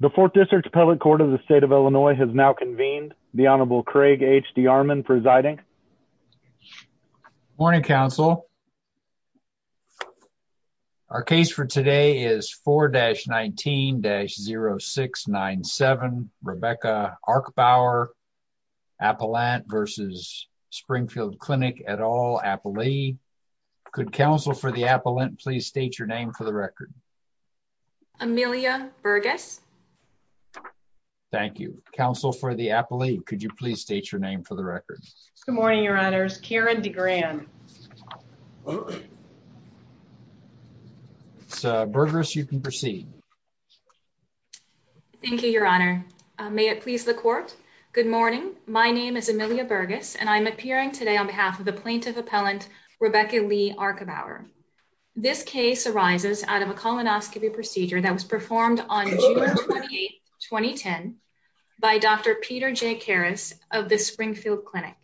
The 4th District's Public Court of the State of Illinois has now convened. The Honorable Craig H. D. Armon presiding. Good morning, Counsel. Our case for today is 4-19-0697, Rebecca Arkebauer, Appellant v. Springfield Clinic, et al., Appalee. Could Counsel for the Appellant please state your name for the record? Amelia Burgess. Thank you. Counsel for the Appalee, could you please state your name for the record? Good morning, Your Honors. Karen DeGran. Burgess, you can proceed. Thank you, Your Honor. May it please the Court? Good morning. My name is Amelia Burgess, and I am appearing today on behalf of the Plaintiff Appellant, Rebecca Lee Arkebauer. This case arises out of a colonoscopy procedure that was performed on June 28, 2010, by Dr. Peter J. Karras of the Springfield Clinic.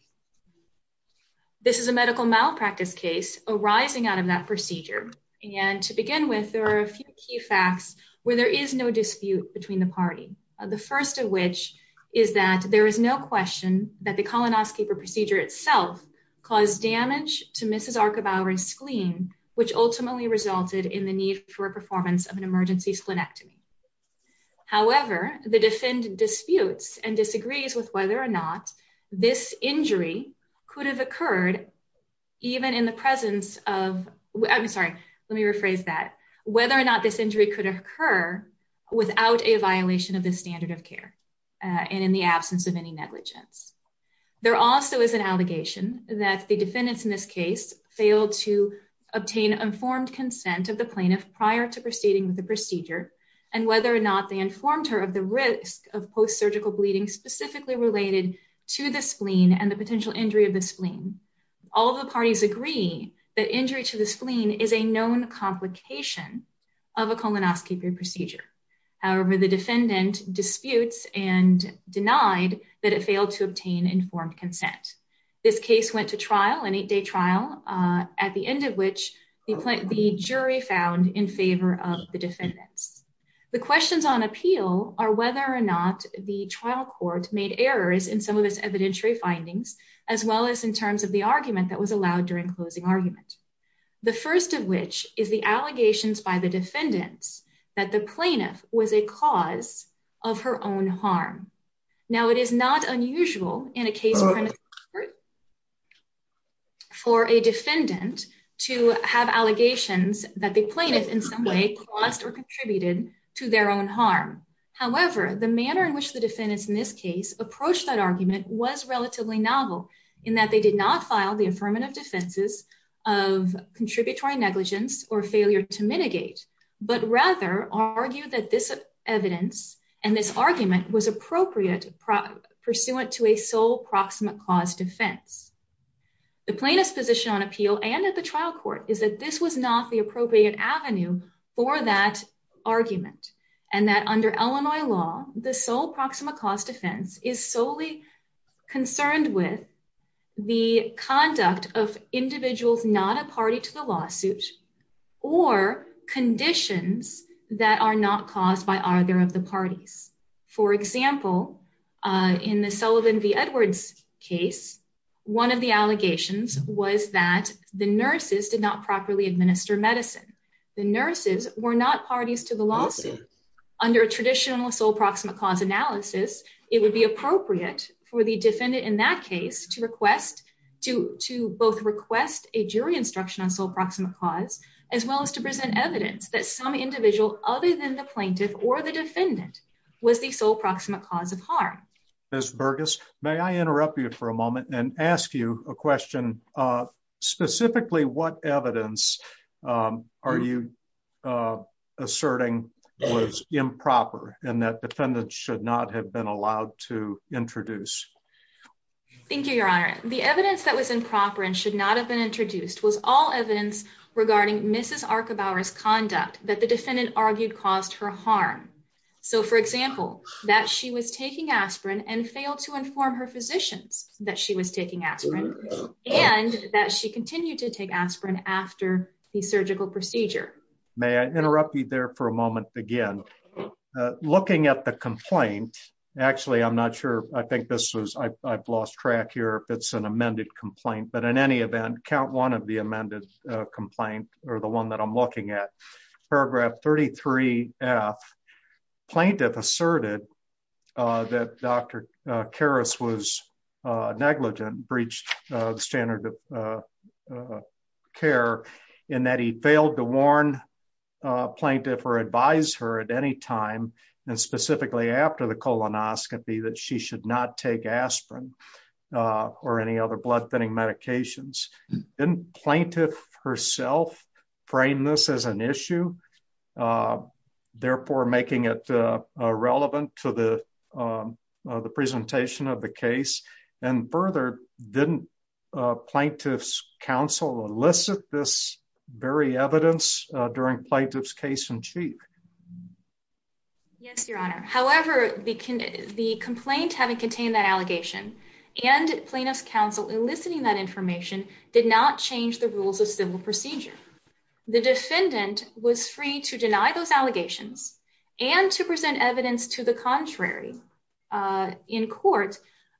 This is a medical malpractice case arising out of that procedure, and to begin with, there are a few key facts where there is no dispute between the party. The first of which is that there is no question that the colonoscopy procedure itself caused damage to Mrs. Arkebauer's spleen, which ultimately resulted in the need for a performance of an emergency splenectomy. However, the defendant disputes and disagrees with whether or not this injury could have occurred without a violation of the standard of care, and in the absence of any negligence. There also is an allegation that the defendants in this case failed to obtain informed consent of the plaintiff prior to proceeding with the procedure, and whether or not they informed her of the risk of post-surgical bleeding specifically related to the spleen and the potential injury of the spleen. All the parties agree that injury to the spleen is a known complication of a colonoscopy procedure. However, the defendant disputes and denied that it failed to obtain informed consent. This case went to trial, an eight-day trial, at the end of which the jury found in favor of the defendants. The questions on appeal are whether or not the trial court made errors in some of its evidentiary findings, as well as in terms of the argument that was allowed during closing argument. The first of which is the allegations by the defendants that the plaintiff was a cause of her own harm. Now, it is not unusual in a case for a defendant to have allegations that the plaintiff in some way caused or contributed to their own harm. However, the manner in which the defendants in this case approached that argument was relatively novel in that they did not file the affirmative defenses of contributory negligence or failure to mitigate, but rather argued that this evidence and this argument was appropriate pursuant to a sole proximate cause defense. The plaintiff's position on appeal and at the trial court is that this was not the appropriate avenue for that argument, and that under Illinois law, the sole proximate cause defense is solely concerned with the conduct of individuals not a party to the lawsuit or conditions that are not caused by either of the parties. For example, in the Sullivan v. Edwards case, one of the allegations was that the nurses did not properly administer medicine. The nurses were not parties to the lawsuit. Under a traditional sole proximate cause analysis, it would be appropriate for the defendant in that case to both request a jury instruction on sole proximate cause, as well as to present evidence that some individual other than the plaintiff or the defendant was the sole proximate cause of harm. Ms. Burgess, may I interrupt you for a moment and ask you a question? Specifically, what evidence are you asserting was improper and that defendants should not have been allowed to introduce? Thank you, Your Honor. The evidence that was improper and should not have been introduced was all evidence regarding Mrs. Archibauer's conduct that the defendant argued caused her harm. So, for example, that she was taking aspirin and failed to inform her physicians that she was taking aspirin and that she continued to take aspirin after the surgical procedure. May I interrupt you there for a moment again? Looking at the complaint, actually, I'm not sure, I think this was, I've lost track here if it's an amended complaint, but in any event, count one of the amended complaint or the one that I'm looking at. Paragraph 33F. Plaintiff asserted that Dr. Karras was negligent, breached the standard of care, and that he failed to warn plaintiff or advise her at any time, and specifically after the colonoscopy, that she should not take aspirin or any other blood thinning medications. Didn't plaintiff herself frame this as an issue, therefore making it irrelevant to the presentation of the case? And further, didn't plaintiff's counsel elicit this very evidence during plaintiff's case in chief? Yes, Your Honor. However, the complaint having contained that allegation and plaintiff's counsel eliciting that information did not change the rules of civil procedure. The defendant was free to deny those allegations and to present evidence to the contrary in court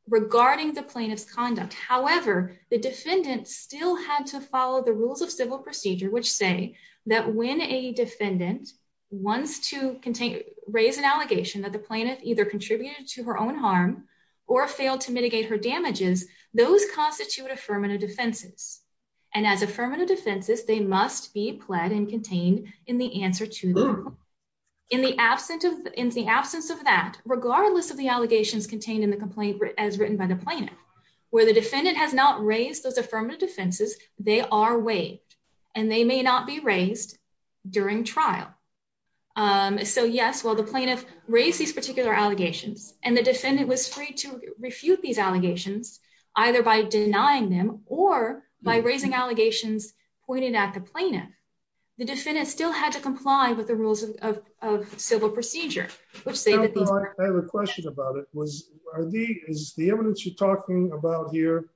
regarding the plaintiff's conduct. However, the defendant still had to follow the rules of civil procedure which say that when a defendant wants to raise an allegation that the plaintiff either contributed to her own harm or failed to mitigate her damages, those constitute affirmative defenses. And as affirmative defenses, they must be pled and contained in the answer to them. In the absence of that, regardless of the allegations contained in the complaint as written by the plaintiff, where the defendant has not raised those affirmative defenses, they are waived and they may not be raised during trial. So yes, while the plaintiff raised these particular allegations and the defendant was free to refute these allegations, either by denying them or by raising allegations pointed at the plaintiff, the defendant still had to comply with the rules of civil procedure. I have a question about it. Is the evidence you're talking about here,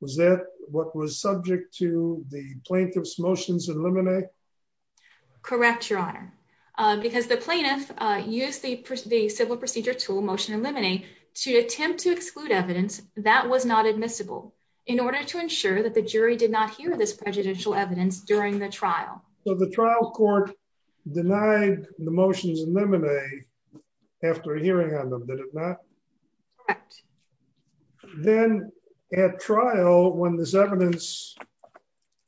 was that what was subject to the plaintiff's motions in limine? Correct, Your Honor. Because the plaintiff used the civil procedure tool, motion in limine, to attempt to exclude evidence that was not admissible in order to ensure that the jury did not hear this prejudicial evidence during the trial. So the trial court denied the motions in limine after hearing on them, did it not? Correct. Then at trial, when this evidence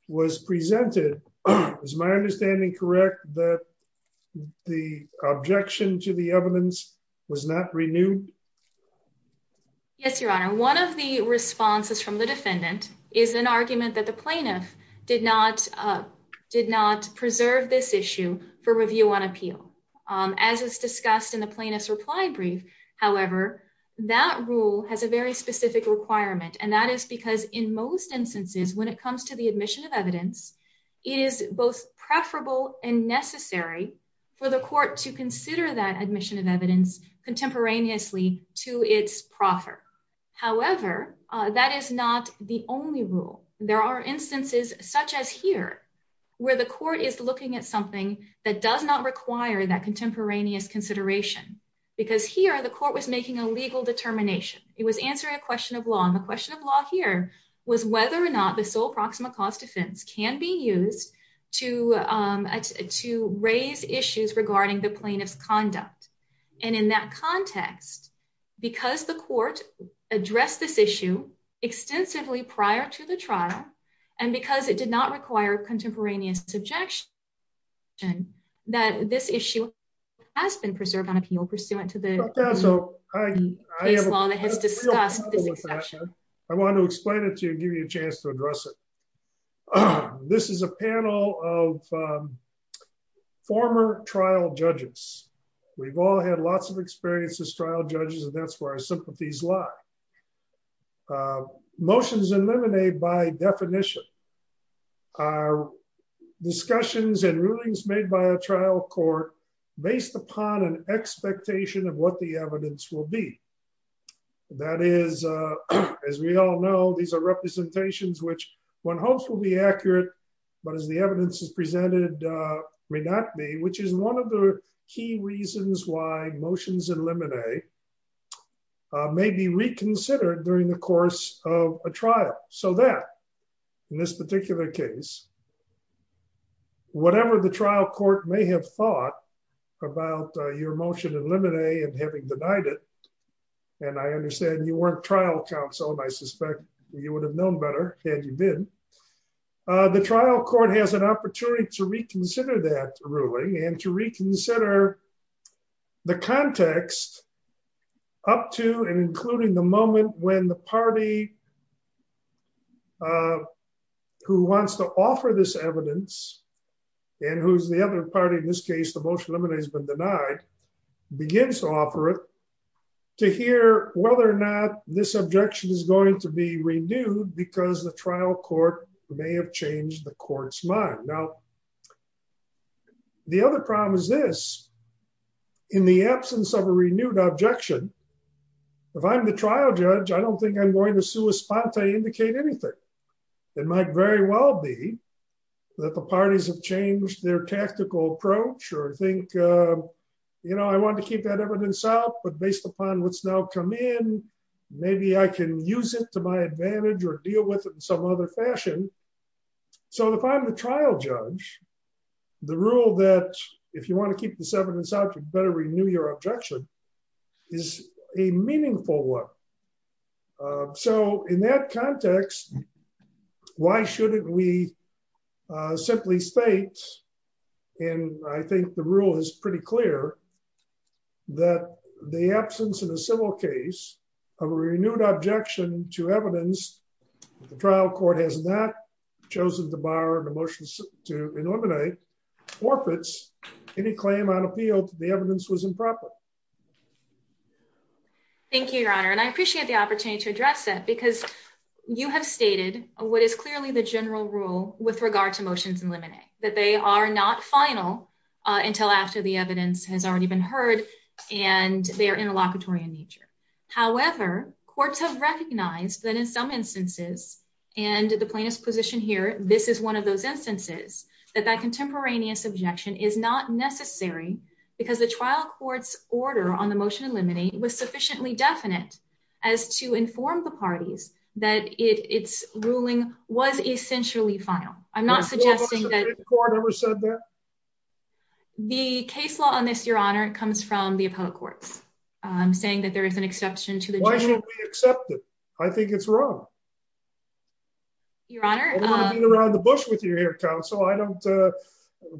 was presented, is my understanding correct that the objection to the evidence was not renewed? Yes, Your Honor. One of the responses from the defendant is an argument that the plaintiff did not preserve this issue for review on appeal. As is discussed in the plaintiff's reply brief, however, that rule has a very specific requirement. And that is because in most instances, when it comes to the admission of evidence, it is both preferable and necessary for the court to consider that admission of evidence contemporaneously to its proffer. However, that is not the only rule. There are instances such as here, where the court is looking at something that does not require that contemporaneous consideration. Because here, the court was making a legal determination. It was answering a question of law. And the question of law here was whether or not the sole proxima cause defense can be used to raise issues regarding the plaintiff's conduct. And in that context, because the court addressed this issue extensively prior to the trial, and because it did not require contemporaneous objection, that this issue has been preserved on appeal pursuant to the case law that has discussed this exception. I want to explain it to you and give you a chance to address it. This is a panel of former trial judges. We've all had lots of experience as trial judges, and that's where our sympathies lie. Motions in limine by definition are discussions and rulings made by a trial court based upon an expectation of what the evidence will be. That is, as we all know, these are representations which one hopes will be accurate, but as the evidence is presented, may not be, which is one of the key reasons why motions in limine may be reconsidered during the course of a trial. So that, in this particular case, whatever the trial court may have thought about your motion in limine and having denied it, and I understand you weren't trial counsel and I suspect you would have known better had you been, the trial court has an opportunity to reconsider that ruling and to reconsider the context up to and including the moment when the party who wants to offer this evidence, and who's the other party in this case, the motion in limine has been denied, begins to offer it, to hear whether or not this objection is going to be renewed because the trial court may have changed the court's mind. Now, the other problem is this, in the absence of a renewed objection, if I'm the trial judge, I don't think I'm going to sue a spot to indicate anything. It might very well be that the parties have changed their tactical approach or think, you know, I want to keep that evidence out, but based upon what's now come in, maybe I can use it to my advantage or deal with it in some other fashion. So if I'm the trial judge, the rule that if you want to keep this evidence out, you better renew your objection is a meaningful one. So in that context, why shouldn't we simply state, and I think the rule is pretty clear, that the absence of a civil case of a renewed objection to evidence, the trial court has not chosen to bar the motion to eliminate, forfeits any claim on appeal that the evidence was improper. Thank you, Your Honor, and I appreciate the opportunity to address that because you have stated what is clearly the general rule with regard to motions eliminate, that they are not final until after the evidence has already been heard, and they are interlocutory in nature. However, courts have recognized that in some instances, and the plaintiff's position here, this is one of those instances, that that contemporaneous objection is not necessary because the trial court's order on the motion to eliminate was sufficiently definite as to inform the parties that its ruling was essentially final. I'm not suggesting that the court ever said that. The case law on this, Your Honor, comes from the appellate courts, saying that there is an exception to the- Why shouldn't we accept it? I think it's wrong. Your Honor- I don't want to beat around the bush with you here, counsel. I don't,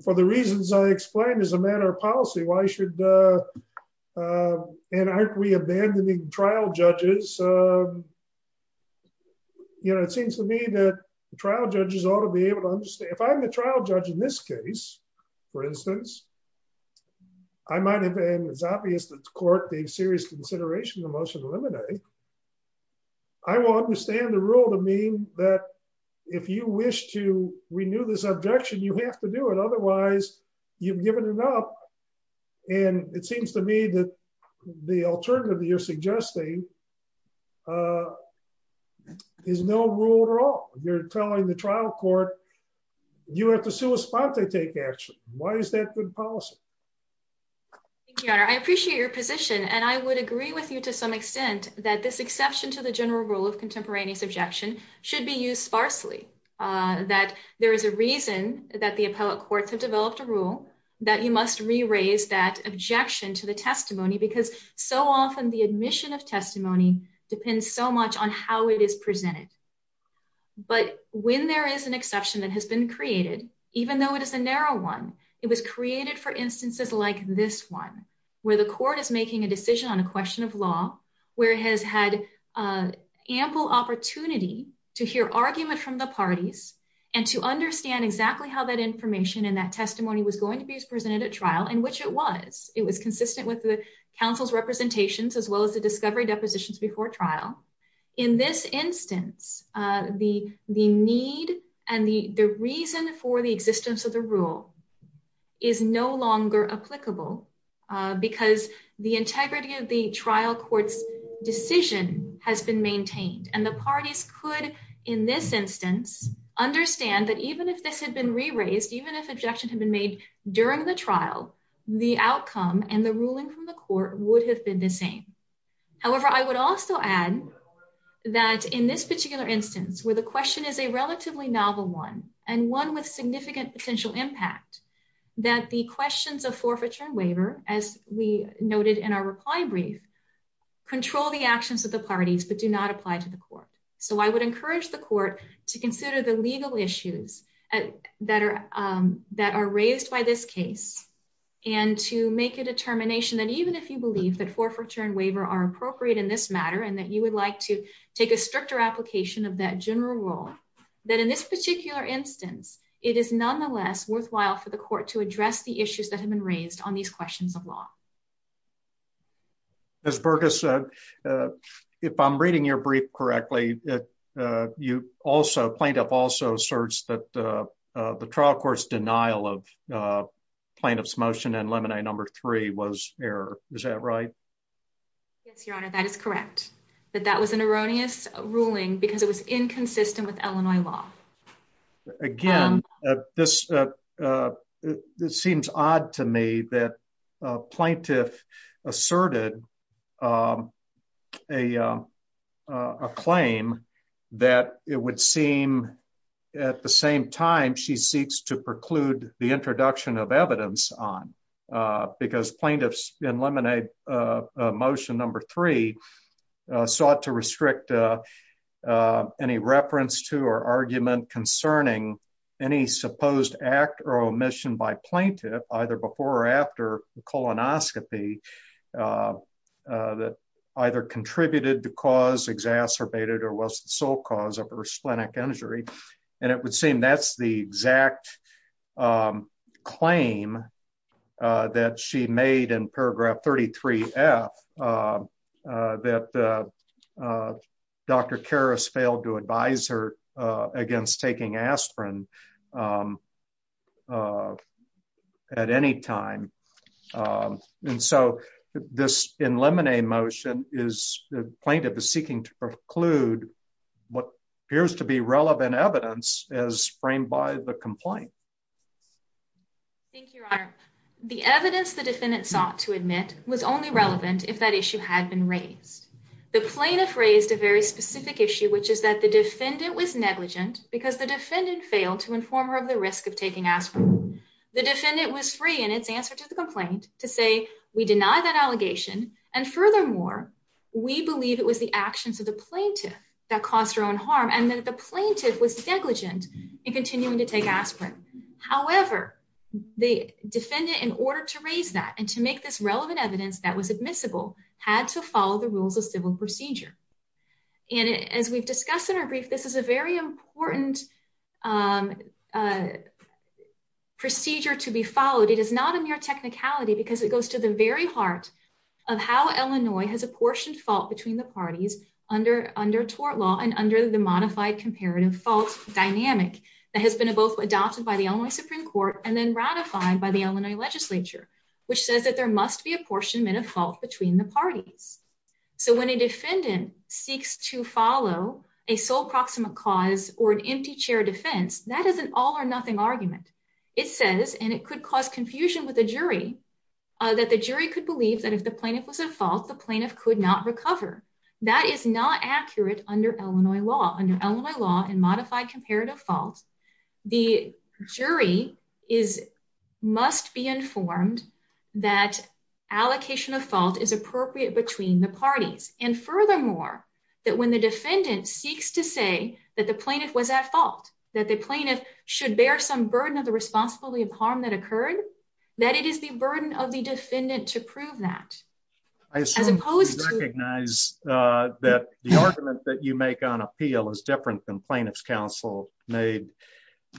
for the reasons I explained as a matter of policy, why should, and aren't we abandoning trial judges? You know, it seems to me that the trial judges ought to be able to understand. If I'm the trial judge in this case, for instance, I might have been, it's obvious that the court gave serious consideration to the motion to eliminate. I will understand the rule to mean that if you wish to renew this objection, you have to do it. Otherwise, you've given it up, and it seems to me that the alternative that you're suggesting is no rule at all. You're telling the trial court, you have to sua sponte take action. Why is that good policy? Thank you, Your Honor. I appreciate your position, and I would agree with you to some extent that this exception to the general rule of contemporaneous objection should be used sparsely. That there is a reason that the appellate courts have developed a rule that you must re-raise that objection to the testimony, because so often the admission of testimony depends so much on how it is presented. But when there is an exception that has been created, even though it is a narrow one, it was created for instances like this one, where the court is making a decision on a question of law, where it has had ample opportunity to hear argument from the parties, and to understand exactly how that information and that testimony was going to be presented at trial, and which it was. It was consistent with the counsel's representations, as well as the discovery depositions before trial. In this instance, the need and the reason for the existence of the rule is no longer applicable, because the integrity of the trial court's decision has been maintained. And the parties could, in this instance, understand that even if this had been re-raised, even if objection had been made during the trial, the outcome and the ruling from the court would have been the same. However, I would also add that in this particular instance, where the question is a relatively novel one, and one with significant potential impact, that the questions of forfeiture and waiver, as we noted in our reply brief, control the actions of the parties, but do not apply to the court. So I would encourage the court to consider the legal issues that are raised by this case, and to make a determination that even if you believe that forfeiture and waiver are appropriate in this matter, and that you would like to take a stricter application of that general rule, that in this particular instance, it is nonetheless worthwhile for the court to address the issues that have been raised on these questions of law. Ms. Burgess, if I'm reading your brief correctly, you also, plaintiff also asserts that the trial court's denial of plaintiff's motion and Lemonade No. 3 was error. Is that right? Yes, Your Honor, that is correct. That that was an erroneous ruling because it was inconsistent with Illinois law. Again, this seems odd to me that a plaintiff asserted a claim that it would seem at the same time she seeks to preclude the introduction of evidence on, because plaintiffs in Lemonade Motion No. 3 sought to restrict any reference to or argument concerning any supposed act or omission by plaintiff, either before or after colonoscopy, that either contributed to cause exacerbated or was the sole cause of her splenic injury. And it would seem that's the exact claim that she made in paragraph 33F, that Dr. Karras failed to advise her against taking aspirin at any time. And so this in Lemonade Motion is plaintiff is seeking to preclude what appears to be relevant evidence as framed by the complaint. Thank you, Your Honor. The evidence the defendant sought to admit was only relevant if that issue had been raised. The plaintiff raised a very specific issue, which is that the defendant was negligent because the defendant failed to inform her of the risk of taking aspirin. The defendant was free in its answer to the complaint to say, we deny that allegation. And furthermore, we believe it was the actions of the plaintiff that caused her own harm and that the plaintiff was negligent in continuing to take aspirin. However, the defendant in order to raise that and to make this relevant evidence that was admissible had to follow the rules of civil procedure. And as we've discussed in our brief, this is a very important procedure to be followed. It is not a mere technicality because it goes to the very heart of how Illinois has apportioned fault between the parties under under tort law and under the modified comparative fault dynamic that has been both adopted by the Illinois Supreme Court and then ratified by the Illinois legislature, which says that there must be apportionment of fault between the parties. So when a defendant seeks to follow a sole proximate cause or an empty chair defense, that is an all or nothing argument. It says, and it could cause confusion with the jury, that the jury could believe that if the plaintiff was at fault, the plaintiff could not recover. That is not accurate under Illinois law under Illinois law and modified comparative faults. The jury is must be informed that allocation of fault is appropriate between the parties and furthermore, that when the defendant seeks to say that the plaintiff was at fault, that the plaintiff should bear some burden of the responsibility of harm that occurred, that it is the burden of the defendant to prove that as opposed to recognize that the argument that you make on appeal is different than plaintiff's counsel made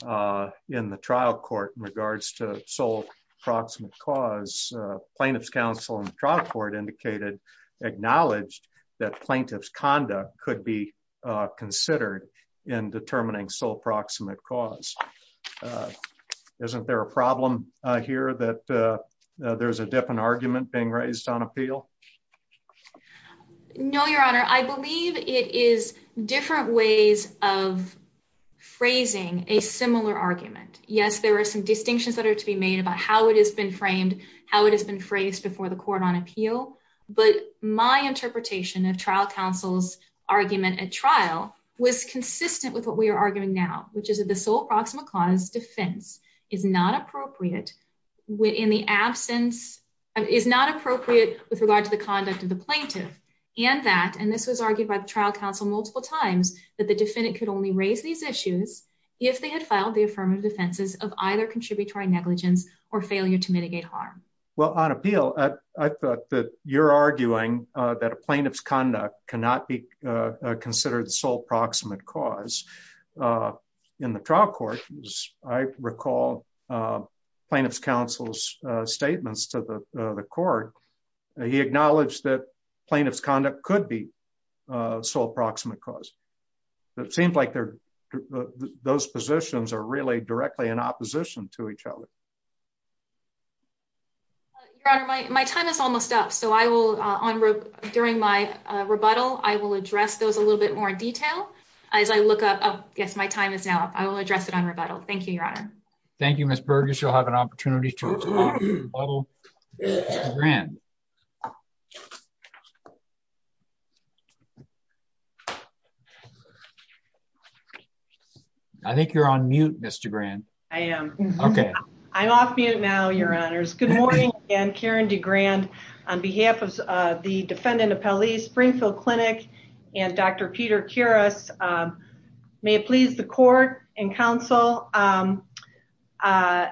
in the trial court in regards to sole proximate cause plaintiff's counsel and trial court indicated acknowledged that plaintiff's conduct could be considered in determining sole proximate cause. Isn't there a problem here that there's a different argument being raised on appeal. No, Your Honor, I believe it is different ways of phrasing a similar argument. Yes, there are some distinctions that are to be made about how it has been framed, how it has been phrased before the court on appeal. But my interpretation of trial counsel's argument at trial was consistent with what we are arguing now, which is that the sole proximate cause defense is not appropriate within the absence of is not appropriate with regard to the conduct of the plaintiff, and that and this was argued by the trial counsel multiple times that the defendant could only raise these issues, if they had filed the affirmative defenses of either contributory negligence or failure to mitigate harm. Well, on appeal. I thought that you're arguing that a plaintiff's conduct cannot be considered sole proximate cause in the trial court. I recall plaintiff's counsel's statements to the court. He acknowledged that plaintiff's conduct could be so approximate cause that seems like they're those positions are really directly in opposition to each other. My time is almost up so I will on during my rebuttal, I will address those a little bit more detail. As I look up. Yes, my time is now, I will address it on rebuttal. Thank you, Your Honor. Thank you, Miss Burgess you'll have an opportunity to run. I think you're on mute, Mr grand. I am. Okay, I'm off mute now your honors. Good morning, and Karen D grand on behalf of the defendant of police Springfield Clinic, and Dr. Peter curious. May it please the court and counsel. I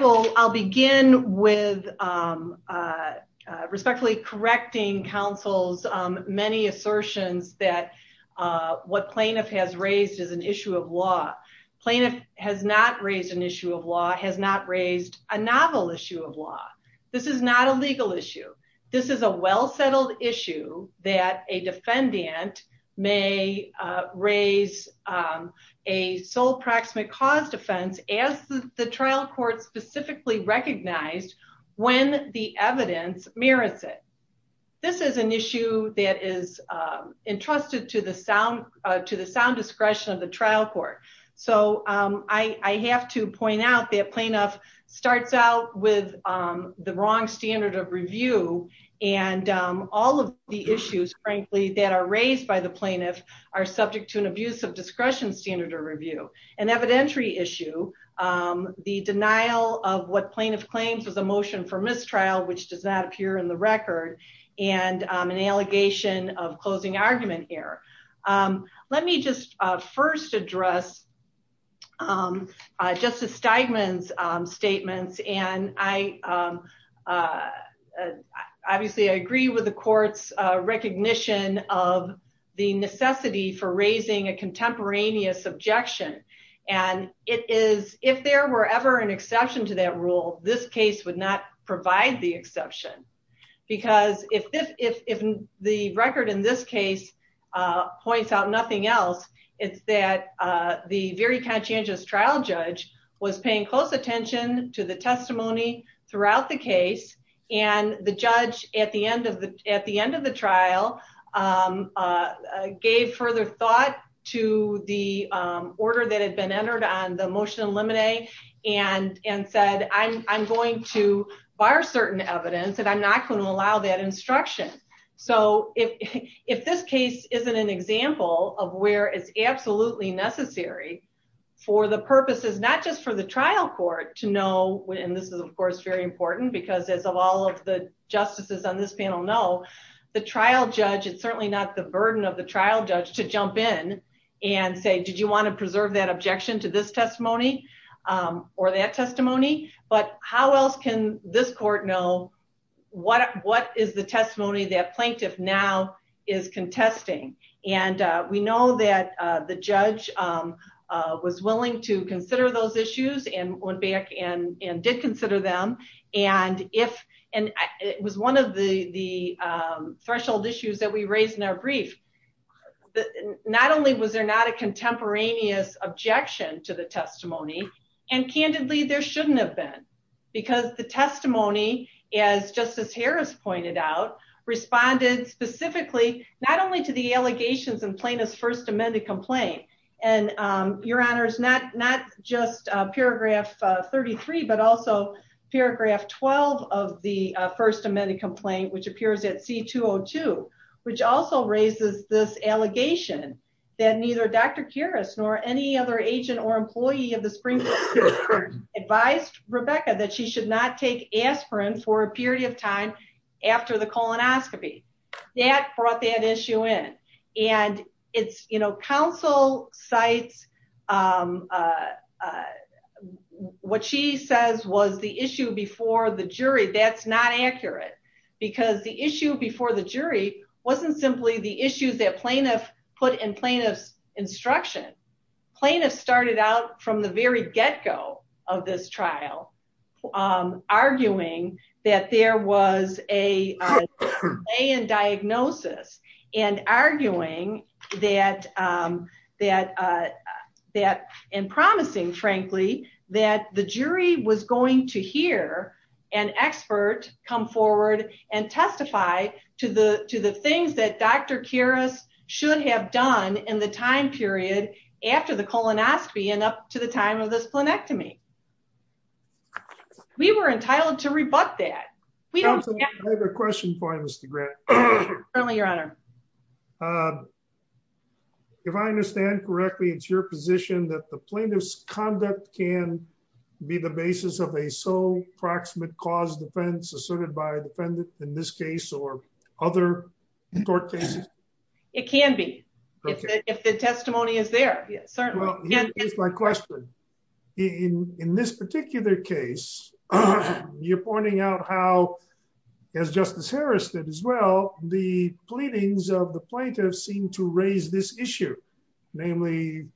will, I'll begin with respectfully correcting counsel's many assertions that what plaintiff has raised is an issue of law plaintiff has not raised an issue of law has not raised a novel issue of law. This is not a legal issue. This is a well settled issue that a defendant may raise a sole proximate cause defense as the trial court specifically recognized when the evidence merits it. This is an issue that is entrusted to the sound to the sound discretion of the trial court. So, I have to point out that plaintiff starts out with the wrong standard of review, and all of the issues, frankly, that are raised by the plaintiff are subject to an abuse of discretion standard or review and evidentiary issue. The denial of what plaintiff claims was a motion for mistrial which does not appear in the record, and an allegation of closing argument here. Let me just first address. Just a statement statements and I obviously I agree with the courts recognition of the necessity for raising a contemporaneous objection, and it is, if there were ever an exception to that rule, this case would not provide the exception. Because if the record in this case points out nothing else. It's that the very conscientious trial judge was paying close attention to the testimony throughout the case, and the judge at the end of the, at the end of the trial. Gave further thought to the order that had been entered on the motion eliminate and and said I'm going to fire certain evidence that I'm not going to allow that instruction. So, if, if this case isn't an example of where it's absolutely necessary for the purposes, not just for the trial court to know when this is of course very important because as of all of the justices on this panel know the trial judge it's certainly not the burden of the trial judge to jump in and say, Did you want to preserve that objection to this testimony or that testimony, but how else can this court know what what is the testimony that plaintiff now is contesting, and we know that the judge was willing to consider those issues and went back and and did consider them. And if, and it was one of the, the threshold issues that we raised in our brief that not only was there not a contemporaneous objection to the testimony, and candidly there shouldn't have been, because the testimony, as Justice Harris pointed out, responded specifically, not only to the allegations and plaintiff's first amended complaint, and your honors not not just paragraph 33 but also paragraph 12 of the first amended complaint which appears at C202, which also raises this allegation that neither Dr. Kuras nor any other agent or employee of the Supreme Court advised Rebecca that she should not take aspirin for a period of time after the colonoscopy that brought that issue in, and it's, you know, the issue before the jury wasn't simply the issues that plaintiff put in plaintiff's instruction. Plaintiffs started out from the very get-go of this trial, arguing that there was a delay in diagnosis and arguing that that that and promising, frankly, that the jury was going to hear an expert come forward and testify to the, to the things that Dr. Kuras should have done in the time period after the colonoscopy and up to the time of this plenectomy. We were entitled to rebut that. I have a question for you, Mr. Grant. Certainly, your honor. If I understand correctly, it's your position that the plaintiff's conduct can be the basis of a sole proximate cause defense asserted by a defendant in this case or other court cases? It can be. If the testimony is there, certainly. Here's my question. In this particular case, you're pointing out how, as Justice Harris did as well, the pleadings of the plaintiffs seem to raise this issue, namely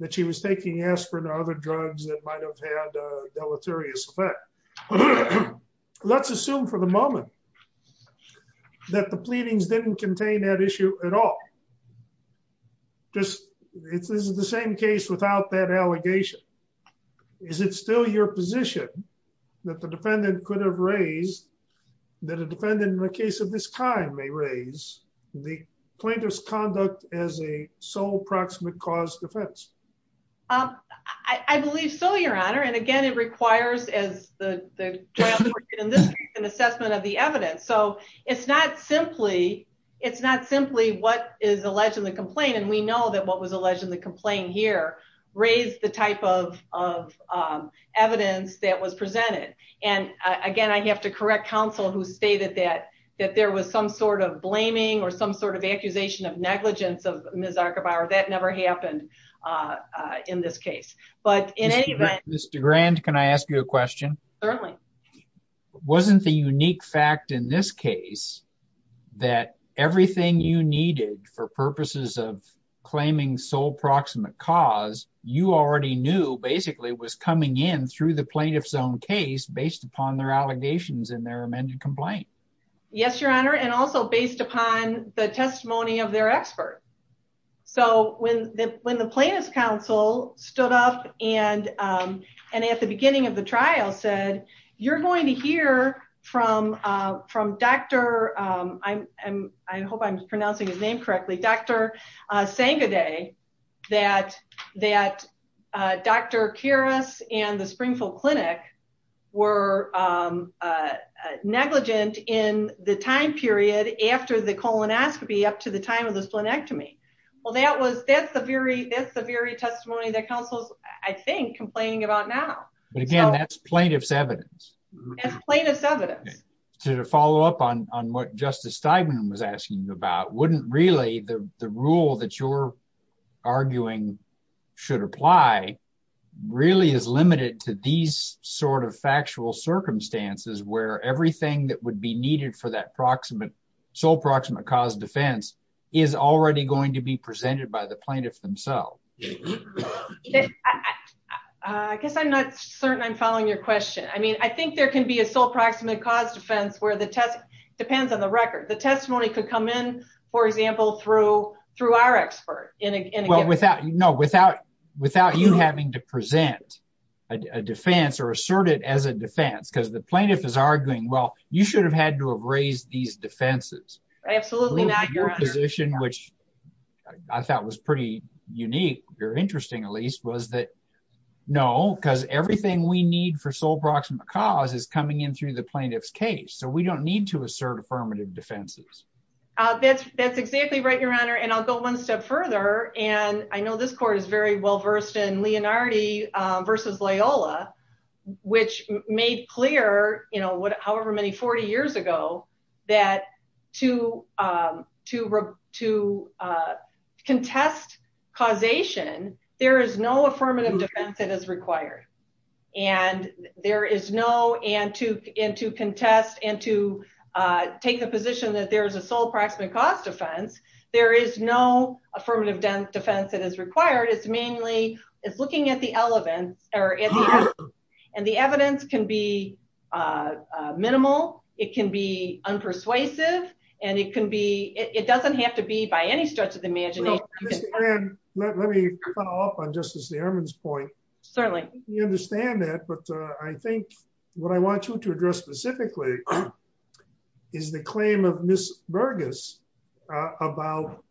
that she was taking aspirin or other drugs that might have had a deleterious effect. Let's assume for the moment that the pleadings didn't contain that issue at all. This is the same case without that allegation. Is it still your position that the defendant could have raised, that a defendant in the case of this time may raise the plaintiff's conduct as a sole proximate cause defense? I believe so, your honor. And again, it requires an assessment of the evidence. So it's not simply what is alleged in the complaint. And we know that what was alleged in the complaint here raised the type of evidence that was presented. And again, I have to correct counsel who stated that there was some sort of blaming or some sort of accusation of negligence of Ms. Archibauer. That never happened in this case. Mr. Grand, can I ask you a question? Certainly. Wasn't the unique fact in this case that everything you needed for purposes of claiming sole proximate cause, you already knew basically was coming in through the plaintiff's own case based upon their allegations in their amended complaint? Yes, your honor. And also based upon the testimony of their expert. So when the plaintiff's counsel stood up and at the beginning of the trial said, you're going to hear from Dr. I hope I'm pronouncing his name correctly. Dr. Sangaday, that Dr. Kuras and the Springfield Clinic were negligent in the time period after the colonoscopy up to the time of the splenectomy. Well, that's the very testimony that counsel's, I think, complaining about now. But again, that's plaintiff's evidence. To follow up on what Justice Steigman was asking about, wouldn't really the rule that you're arguing should apply really is limited to these sort of factual circumstances where everything that would be needed for that proximate sole proximate cause defense is already going to be presented by the plaintiff themselves? I guess I'm not certain I'm following your question. I mean, I think there can be a sole proximate cause defense where the test depends on the record. The testimony could come in, for example, through our expert. No, without you having to present a defense or assert it as a defense, because the plaintiff is arguing, well, you should have had to have raised these defenses. Absolutely not, Your Honor. Your position, which I thought was pretty unique or interesting, at least, was that no, because everything we need for sole proximate cause is coming in through the plaintiff's case. So we don't need to assert affirmative defenses. That's exactly right, Your Honor. And I'll go one step further. And I know this court is very well versed in Leonardi versus Loyola, which made clear, you know, however many 40 years ago, that to contest causation, there is no affirmative defense that is required. And there is no, and to contest and to take the position that there is a sole proximate cause defense, there is no affirmative defense that is required. It's mainly, it's looking at the elements, and the evidence can be minimal. It can be unpersuasive. And it can be, it doesn't have to be by any stretch of the imagination. Let me follow up on Justice Ehrman's point. Certainly. You understand that, but I think what I want you to address specifically is the claim of Ms. Burgess about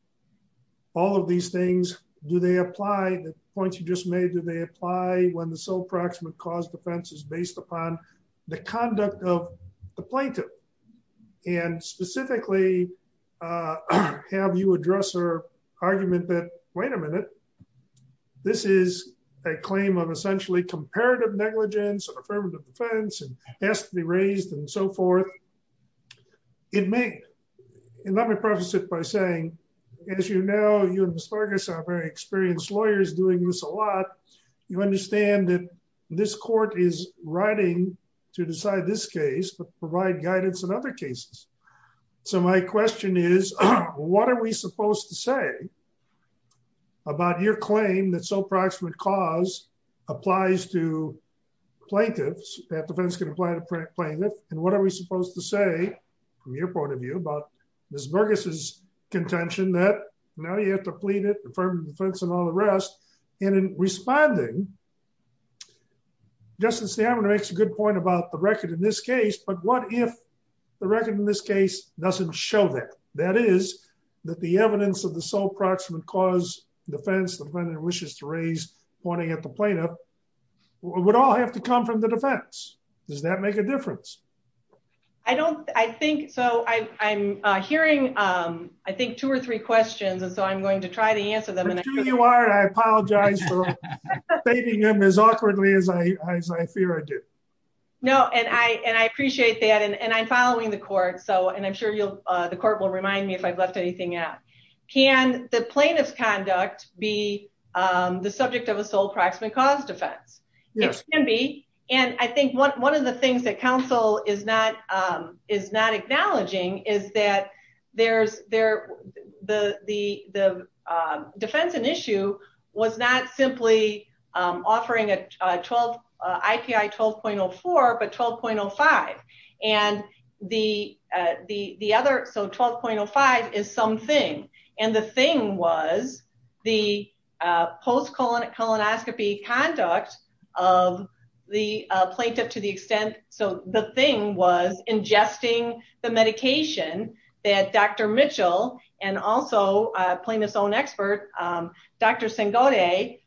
all of these things. Do they apply, the points you just made, do they apply when the sole proximate cause defense is based upon the conduct of the plaintiff? And specifically, have you addressed her argument that, wait a minute, this is a claim of essentially comparative negligence, affirmative defense, and has to be raised and so forth. It may, and let me preface it by saying, as you know, you and Ms. Burgess are very experienced lawyers doing this a lot. You understand that this court is writing to decide this case, but provide guidance in other cases. So my question is, what are we supposed to say about your claim that sole proximate cause applies to plaintiffs, that defense can apply to plaintiffs, and what are we supposed to say, from your point of view, about Ms. Burgess' contention that now you have to plead it, affirmative defense, and all the rest, and in responding, Justin Stammer makes a good point about the record in this case, but what if the record in this case doesn't show that? That is, that the evidence of the sole proximate cause defense, the defendant wishes to raise pointing at the plaintiff, would all have to come from the defense. Does that make a difference? I don't, I think, so I'm hearing, I think, two or three questions, and so I'm going to try to answer them. I'm sure you are, and I apologize for stating them as awkwardly as I fear I do. No, and I appreciate that, and I'm following the court, so, and I'm sure the court will remind me if I've left anything out. Can the plaintiff's conduct be the subject of a sole proximate cause defense? It can be, and I think one of the things that counsel is not acknowledging is that there's, the defense in issue was not simply offering a 12, IPI 12.04, but 12.05, and the other, so 12.05 is something, and the thing was the post colonoscopy conduct of the plaintiff to the extent, so the thing was ingesting the medication that Dr. Mitchell, and also plaintiff's own expert, Dr. Sengoday,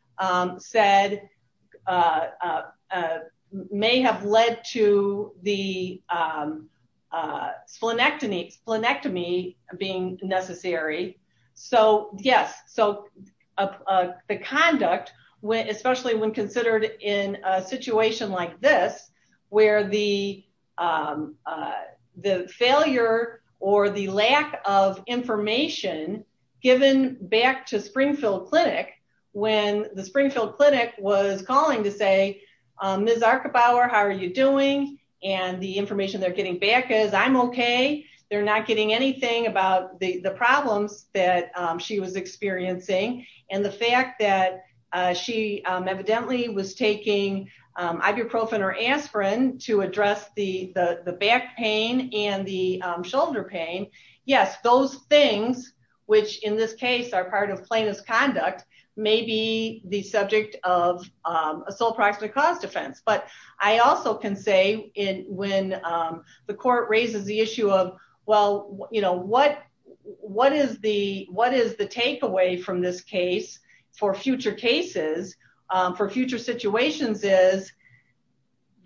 said may have led to the splenectomy being necessary. So, yes, so the conduct, especially when considered in a situation like this, where the failure or the lack of information given back to Springfield Clinic, when the Springfield Clinic was calling to say, Ms. Archibauer, how are you doing? And the information they're getting back is, I'm okay. They're not getting anything about the problems that she was experiencing, and the fact that she evidently was taking ibuprofen or aspirin to address the back pain and the shoulder pain. Yes, those things, which in this case are part of plaintiff's conduct, may be the subject of a sole proximate cause defense, but I also can say when the court raises the issue of, well, you know, what is the takeaway from this case for future cases, for future situations is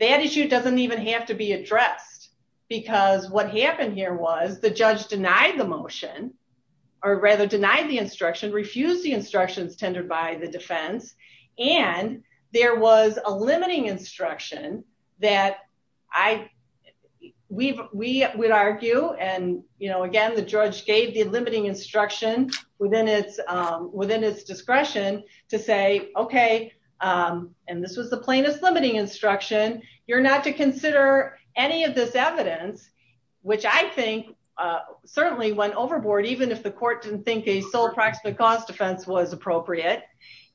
that issue doesn't even have to be addressed, because what happened here was the judge denied the motion, or rather denied the instruction, refused the instructions tendered by the defense, and there was a limiting instruction that we would argue, and, you know, again, the judge gave the limiting instruction within its discretion to say, okay, and this was the plaintiff's limiting instruction. You're not to consider any of this evidence, which I think certainly went overboard, even if the court didn't think a sole proximate cause defense was appropriate,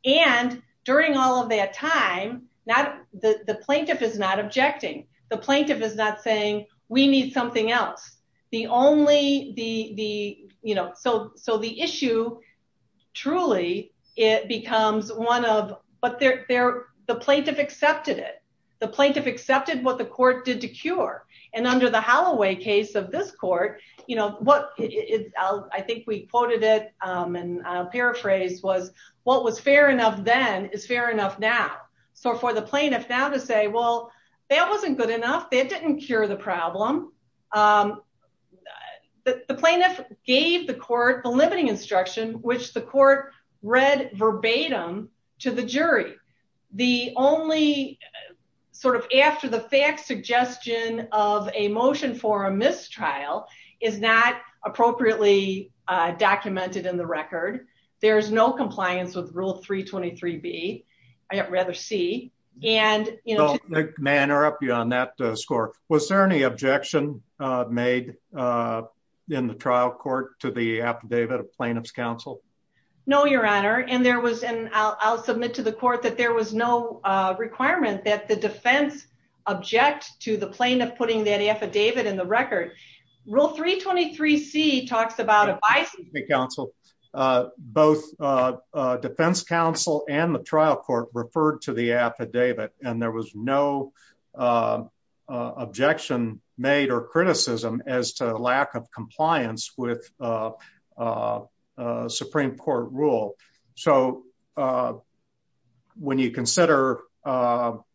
and during all of that time, the plaintiff is not objecting. The plaintiff is not saying we need something else. The only, the, you know, so the issue, truly, it becomes one of, but the plaintiff accepted it. The plaintiff accepted what the court did to cure, and under the Holloway case of this court, you know, what I think we quoted it and paraphrased was, what was fair enough then is fair enough now. So for the plaintiff now to say, well, that wasn't good enough, that didn't cure the problem, the plaintiff gave the court the limiting instruction, which the court read verbatim to the jury. The only sort of after the fact suggestion of a motion for a mistrial is not appropriately documented in the record. There is no compliance with rule 323B, rather C, and, you know. May I interrupt you on that score? Was there any objection made in the trial court to the affidavit of plaintiff's counsel? No, Your Honor, and there was, and I'll submit to the court that there was no requirement that the defense object to the plaintiff putting that affidavit in the record. Rule 323C talks about advice. Both defense counsel and the trial court referred to the affidavit, and there was no objection made or criticism as to lack of compliance with Supreme Court rule. So when you consider other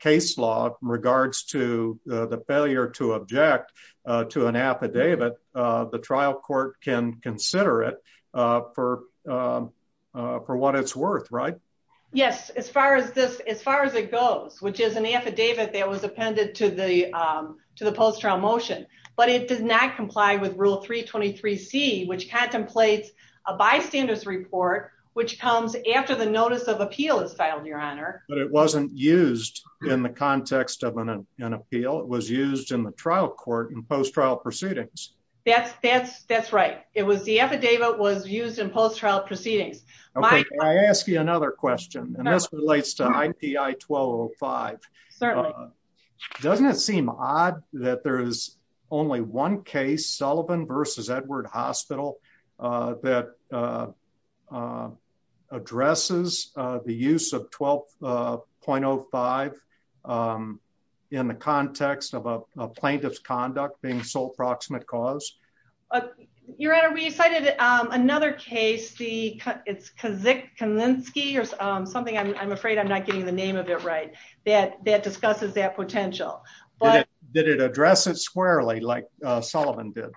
case law in regards to the failure to object to an affidavit, the trial court can consider it for what it's worth, right? Yes, as far as this, as far as it goes, which is an affidavit that was appended to the post-trial motion, but it does not comply with rule 323C, which contemplates a bystanders report, which comes after the notice of appeal is filed, Your Honor. But it wasn't used in the context of an appeal. It was used in the trial court in post-trial proceedings. That's right. It was the affidavit was used in post-trial proceedings. Can I ask you another question? And this relates to IPI 1205. Certainly. Doesn't it seem odd that there is only one case, Sullivan v. Edward Hospital, that addresses the use of 12.05 in the context of a plaintiff's conduct being sole proximate cause? Your Honor, we cited another case, Kaczynski, or something, I'm afraid I'm not getting the name of it right, that discusses that potential. Did it address it squarely like Sullivan did?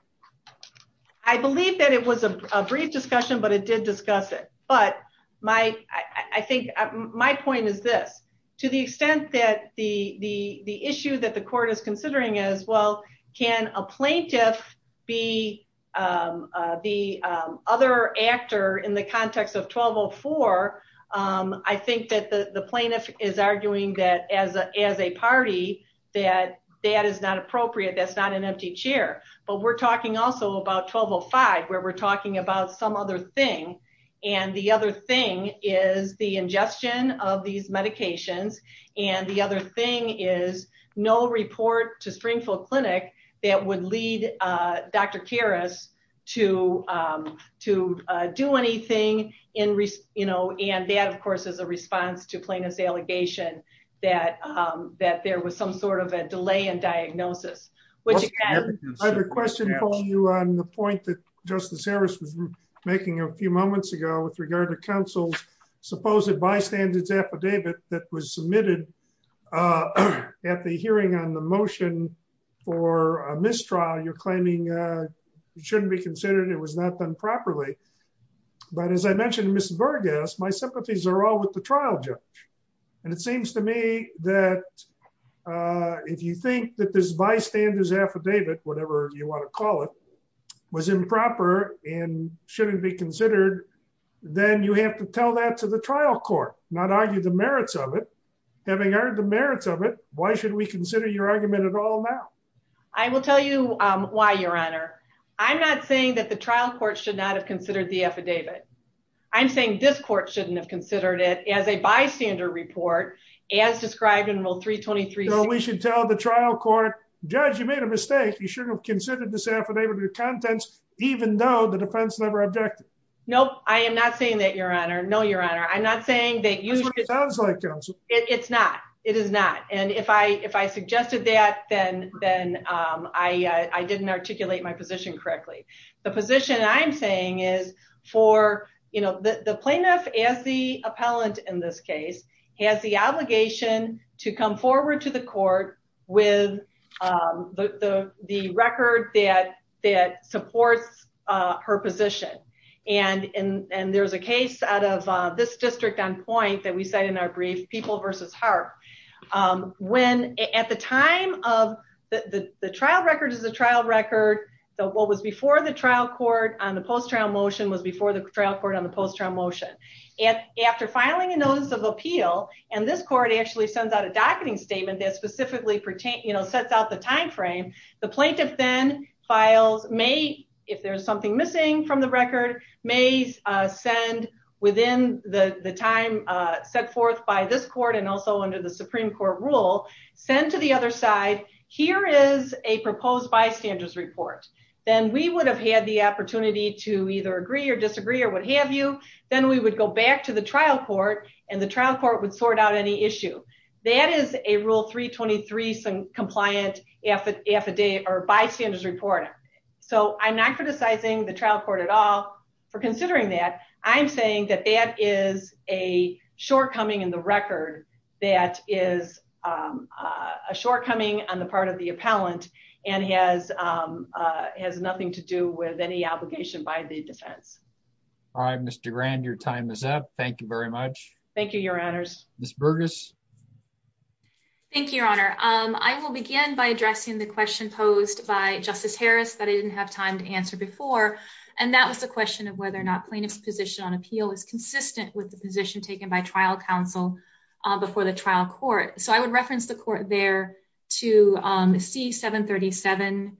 I believe that it was a brief discussion, but it did discuss it. But I think my point is this. To the extent that the issue that the court is considering is, well, can a plaintiff be the other actor in the context of 1204? I think that the plaintiff is arguing that as a party, that that is not appropriate, that's not an empty chair. But we're talking also about 1205, where we're talking about some other thing. And the other thing is the ingestion of these medications. And the other thing is no report to Springfield Clinic that would lead Dr. Karras to do anything. And that, of course, is a response to plaintiff's allegation that there was some sort of a delay in diagnosis. I have a question for you on the point that Justice Harris was making a few moments ago with regard to counsel's supposed bystander's affidavit that was submitted at the hearing on the motion for a mistrial. You're claiming it shouldn't be considered, it was not done properly. But as I mentioned to Ms. Vargas, my sympathies are all with the trial judge. And it seems to me that if you think that this bystander's affidavit, whatever you want to call it, was improper and shouldn't be considered, then you have to tell that to the trial court, not argue the merits of it. Having heard the merits of it, why should we consider your argument at all now? I will tell you why, Your Honor. I'm not saying that the trial court should not have considered the affidavit. I'm saying this court shouldn't have considered it as a bystander report, as described in Rule 323. So we should tell the trial court, judge, you made a mistake. You shouldn't have considered this affidavit of contents, even though the defense never objected. Nope, I am not saying that, Your Honor. No, Your Honor. I'm not saying that you should- That's what it sounds like, Counsel. It's not. It is not. And if I suggested that, then I didn't articulate my position correctly. The position I'm saying is for, you know, the plaintiff, as the appellant in this case, has the obligation to come forward to the court with the record that supports her position. And there's a case out of this district on point that we cite in our brief, People v. Hart. When, at the time of, the trial record is a trial record. What was before the trial court on the post-trial motion was before the trial court on the post-trial motion. And after filing a notice of appeal, and this court actually sends out a docketing statement that specifically, you know, sets out the timeframe. The plaintiff then files, may, if there's something missing from the record, may send within the time set forth by this court and also under the Supreme Court rule, send to the other side, here is a proposed bystanders report. Then we would have had the opportunity to either agree or disagree or what have you. Then we would go back to the trial court and the trial court would sort out any issue. That is a rule 323 compliant affidavit or bystanders report. So I'm not criticizing the trial court at all for considering that. I'm saying that that is a shortcoming in the record. That is a shortcoming on the part of the appellant and has, has nothing to do with any obligation by the defense. All right, Mr. Grand, your time is up. Thank you very much. Thank you, Your Honors. Thank you, Your Honor. I will begin by addressing the question posed by Justice Harris that I didn't have time to answer before. And that was the question of whether or not plaintiff's position on appeal is consistent with the position taken by trial counsel before the trial court. So I would reference the court there to see 737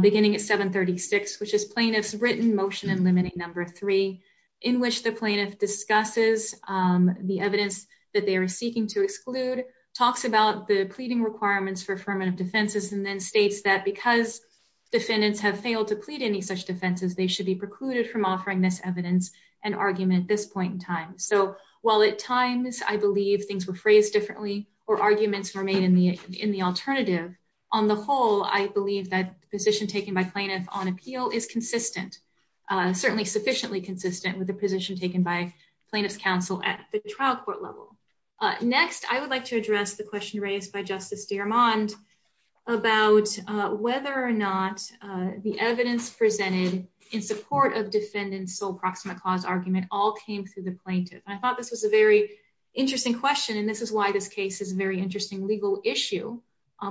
beginning at 736, which is plaintiff's written motion and limiting number three, in which the plaintiff discusses the evidence that they are seeking to exclude, talks about the pleading requirements for affirmative defenses, and then states that because defendants have failed to plead any such defenses, they should be precluded from offering this evidence and argument at this point in time. So while at times I believe things were phrased differently or arguments were made in the in the alternative, on the whole, I believe that position taken by plaintiff on appeal is consistent, certainly sufficiently consistent with the position taken by plaintiff's counsel at the trial court level. Next, I would like to address the question raised by Justice Dermond about whether or not the evidence presented in support of defendants sole proximate cause argument all came through the plaintiff. I thought this was a very interesting question. And this is why this case is very interesting legal issue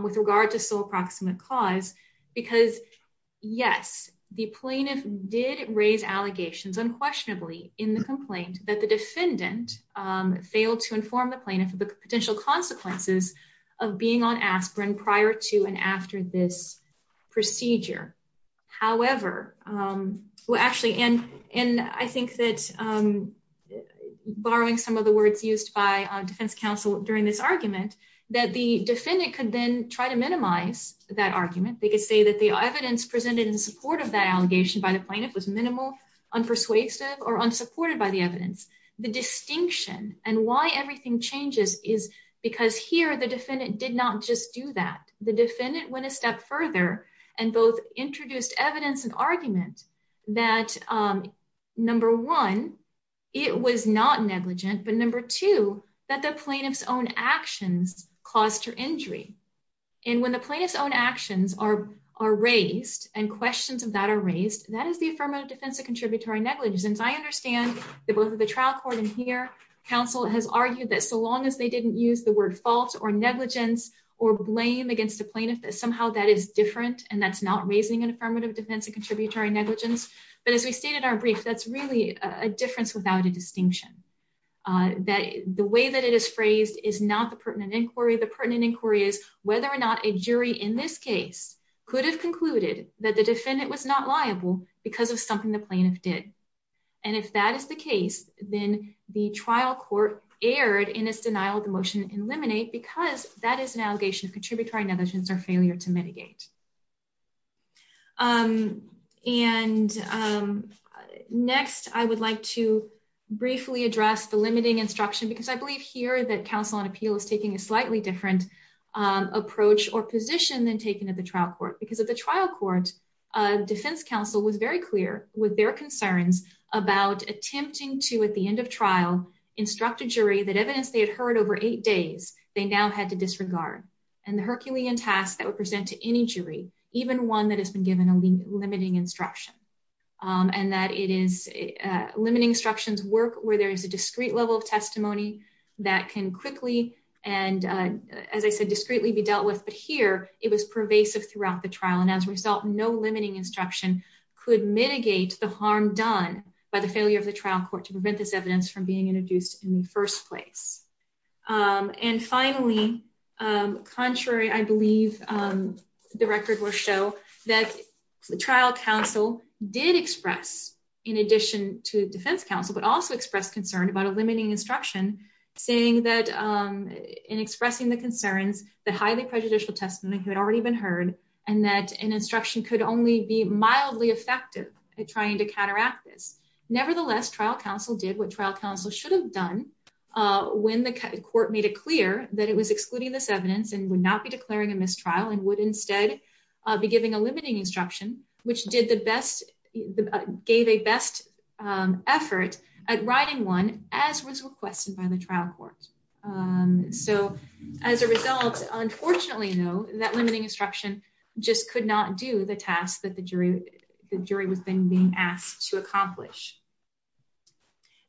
with regard to sole proximate cause, because, yes, the plaintiff did raise allegations unquestionably in the complaint that the defendant failed to inform the plaintiff of the potential consequences of being on aspirin prior to and after this procedure. However, actually, and I think that, borrowing some of the words used by defense counsel during this argument, that the defendant could then try to minimize that argument. They could say that the evidence presented in support of that allegation by the plaintiff was minimal, unpersuasive or unsupported by the evidence. The distinction and why everything changes is because here the defendant did not just do that. The defendant went a step further and both introduced evidence and argument that, number one, it was not negligent. But number two, that the plaintiff's own actions caused her injury. And when the plaintiff's own actions are raised and questions of that are raised, that is the affirmative defense of contributory negligence. And I understand that both of the trial court and here counsel has argued that so long as they didn't use the word fault or negligence or blame against the plaintiff, that somehow that is different and that's not raising an affirmative defense of contributory negligence. But as we stated in our brief, that's really a difference without a distinction, that the way that it is phrased is not the pertinent inquiry. The pertinent inquiry is whether or not a jury in this case could have concluded that the defendant was not liable because of something the plaintiff did. And if that is the case, then the trial court erred in its denial of the motion to eliminate because that is an allegation of contributory negligence or failure to mitigate. And next, I would like to briefly address the limiting instruction, because I believe here that counsel on appeal is taking a slightly different approach or position than taken at the trial court. Because at the trial court, defense counsel was very clear with their concerns about attempting to, at the end of trial, instruct a jury that evidence they had heard over eight days, they now had to disregard. And the Herculean task that would present to any jury, even one that has been given a limiting instruction, and that it is limiting instructions work where there is a discrete level of testimony that can quickly and, as I said, discreetly be dealt with. But here, it was pervasive throughout the trial and as a result, no limiting instruction could mitigate the harm done by the failure of the trial court to prevent this evidence from being introduced in the first place. And finally, contrary, I believe, the record will show that the trial counsel did express, in addition to defense counsel, but also expressed concern about a limiting instruction, saying that in expressing the concerns that highly prejudicial testimony had already been heard, and that an instruction could only be mildly effective at trying to counteract this. Nevertheless, trial counsel did what trial counsel should have done when the court made it clear that it was excluding this evidence and would not be declaring a mistrial and would instead be giving a limiting instruction, which did the best, gave a best effort at writing one as was requested by the trial court. So as a result, unfortunately, though, that limiting instruction just could not do the task that the jury was being asked to accomplish.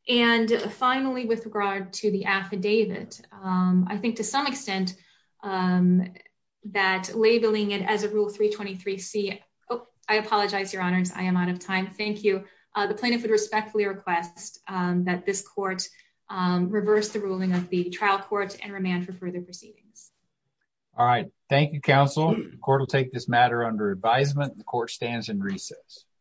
And finally, with regard to the affidavit, I think to some extent that labeling it as a rule 323 C. Oh, I apologize, Your Honors, I am out of time. Thank you. The plaintiff would respectfully request that this court reverse the ruling of the trial court and remand for further proceedings. All right. Thank you, counsel. The court will take this matter under advisement. The court stands in recess. Thank you.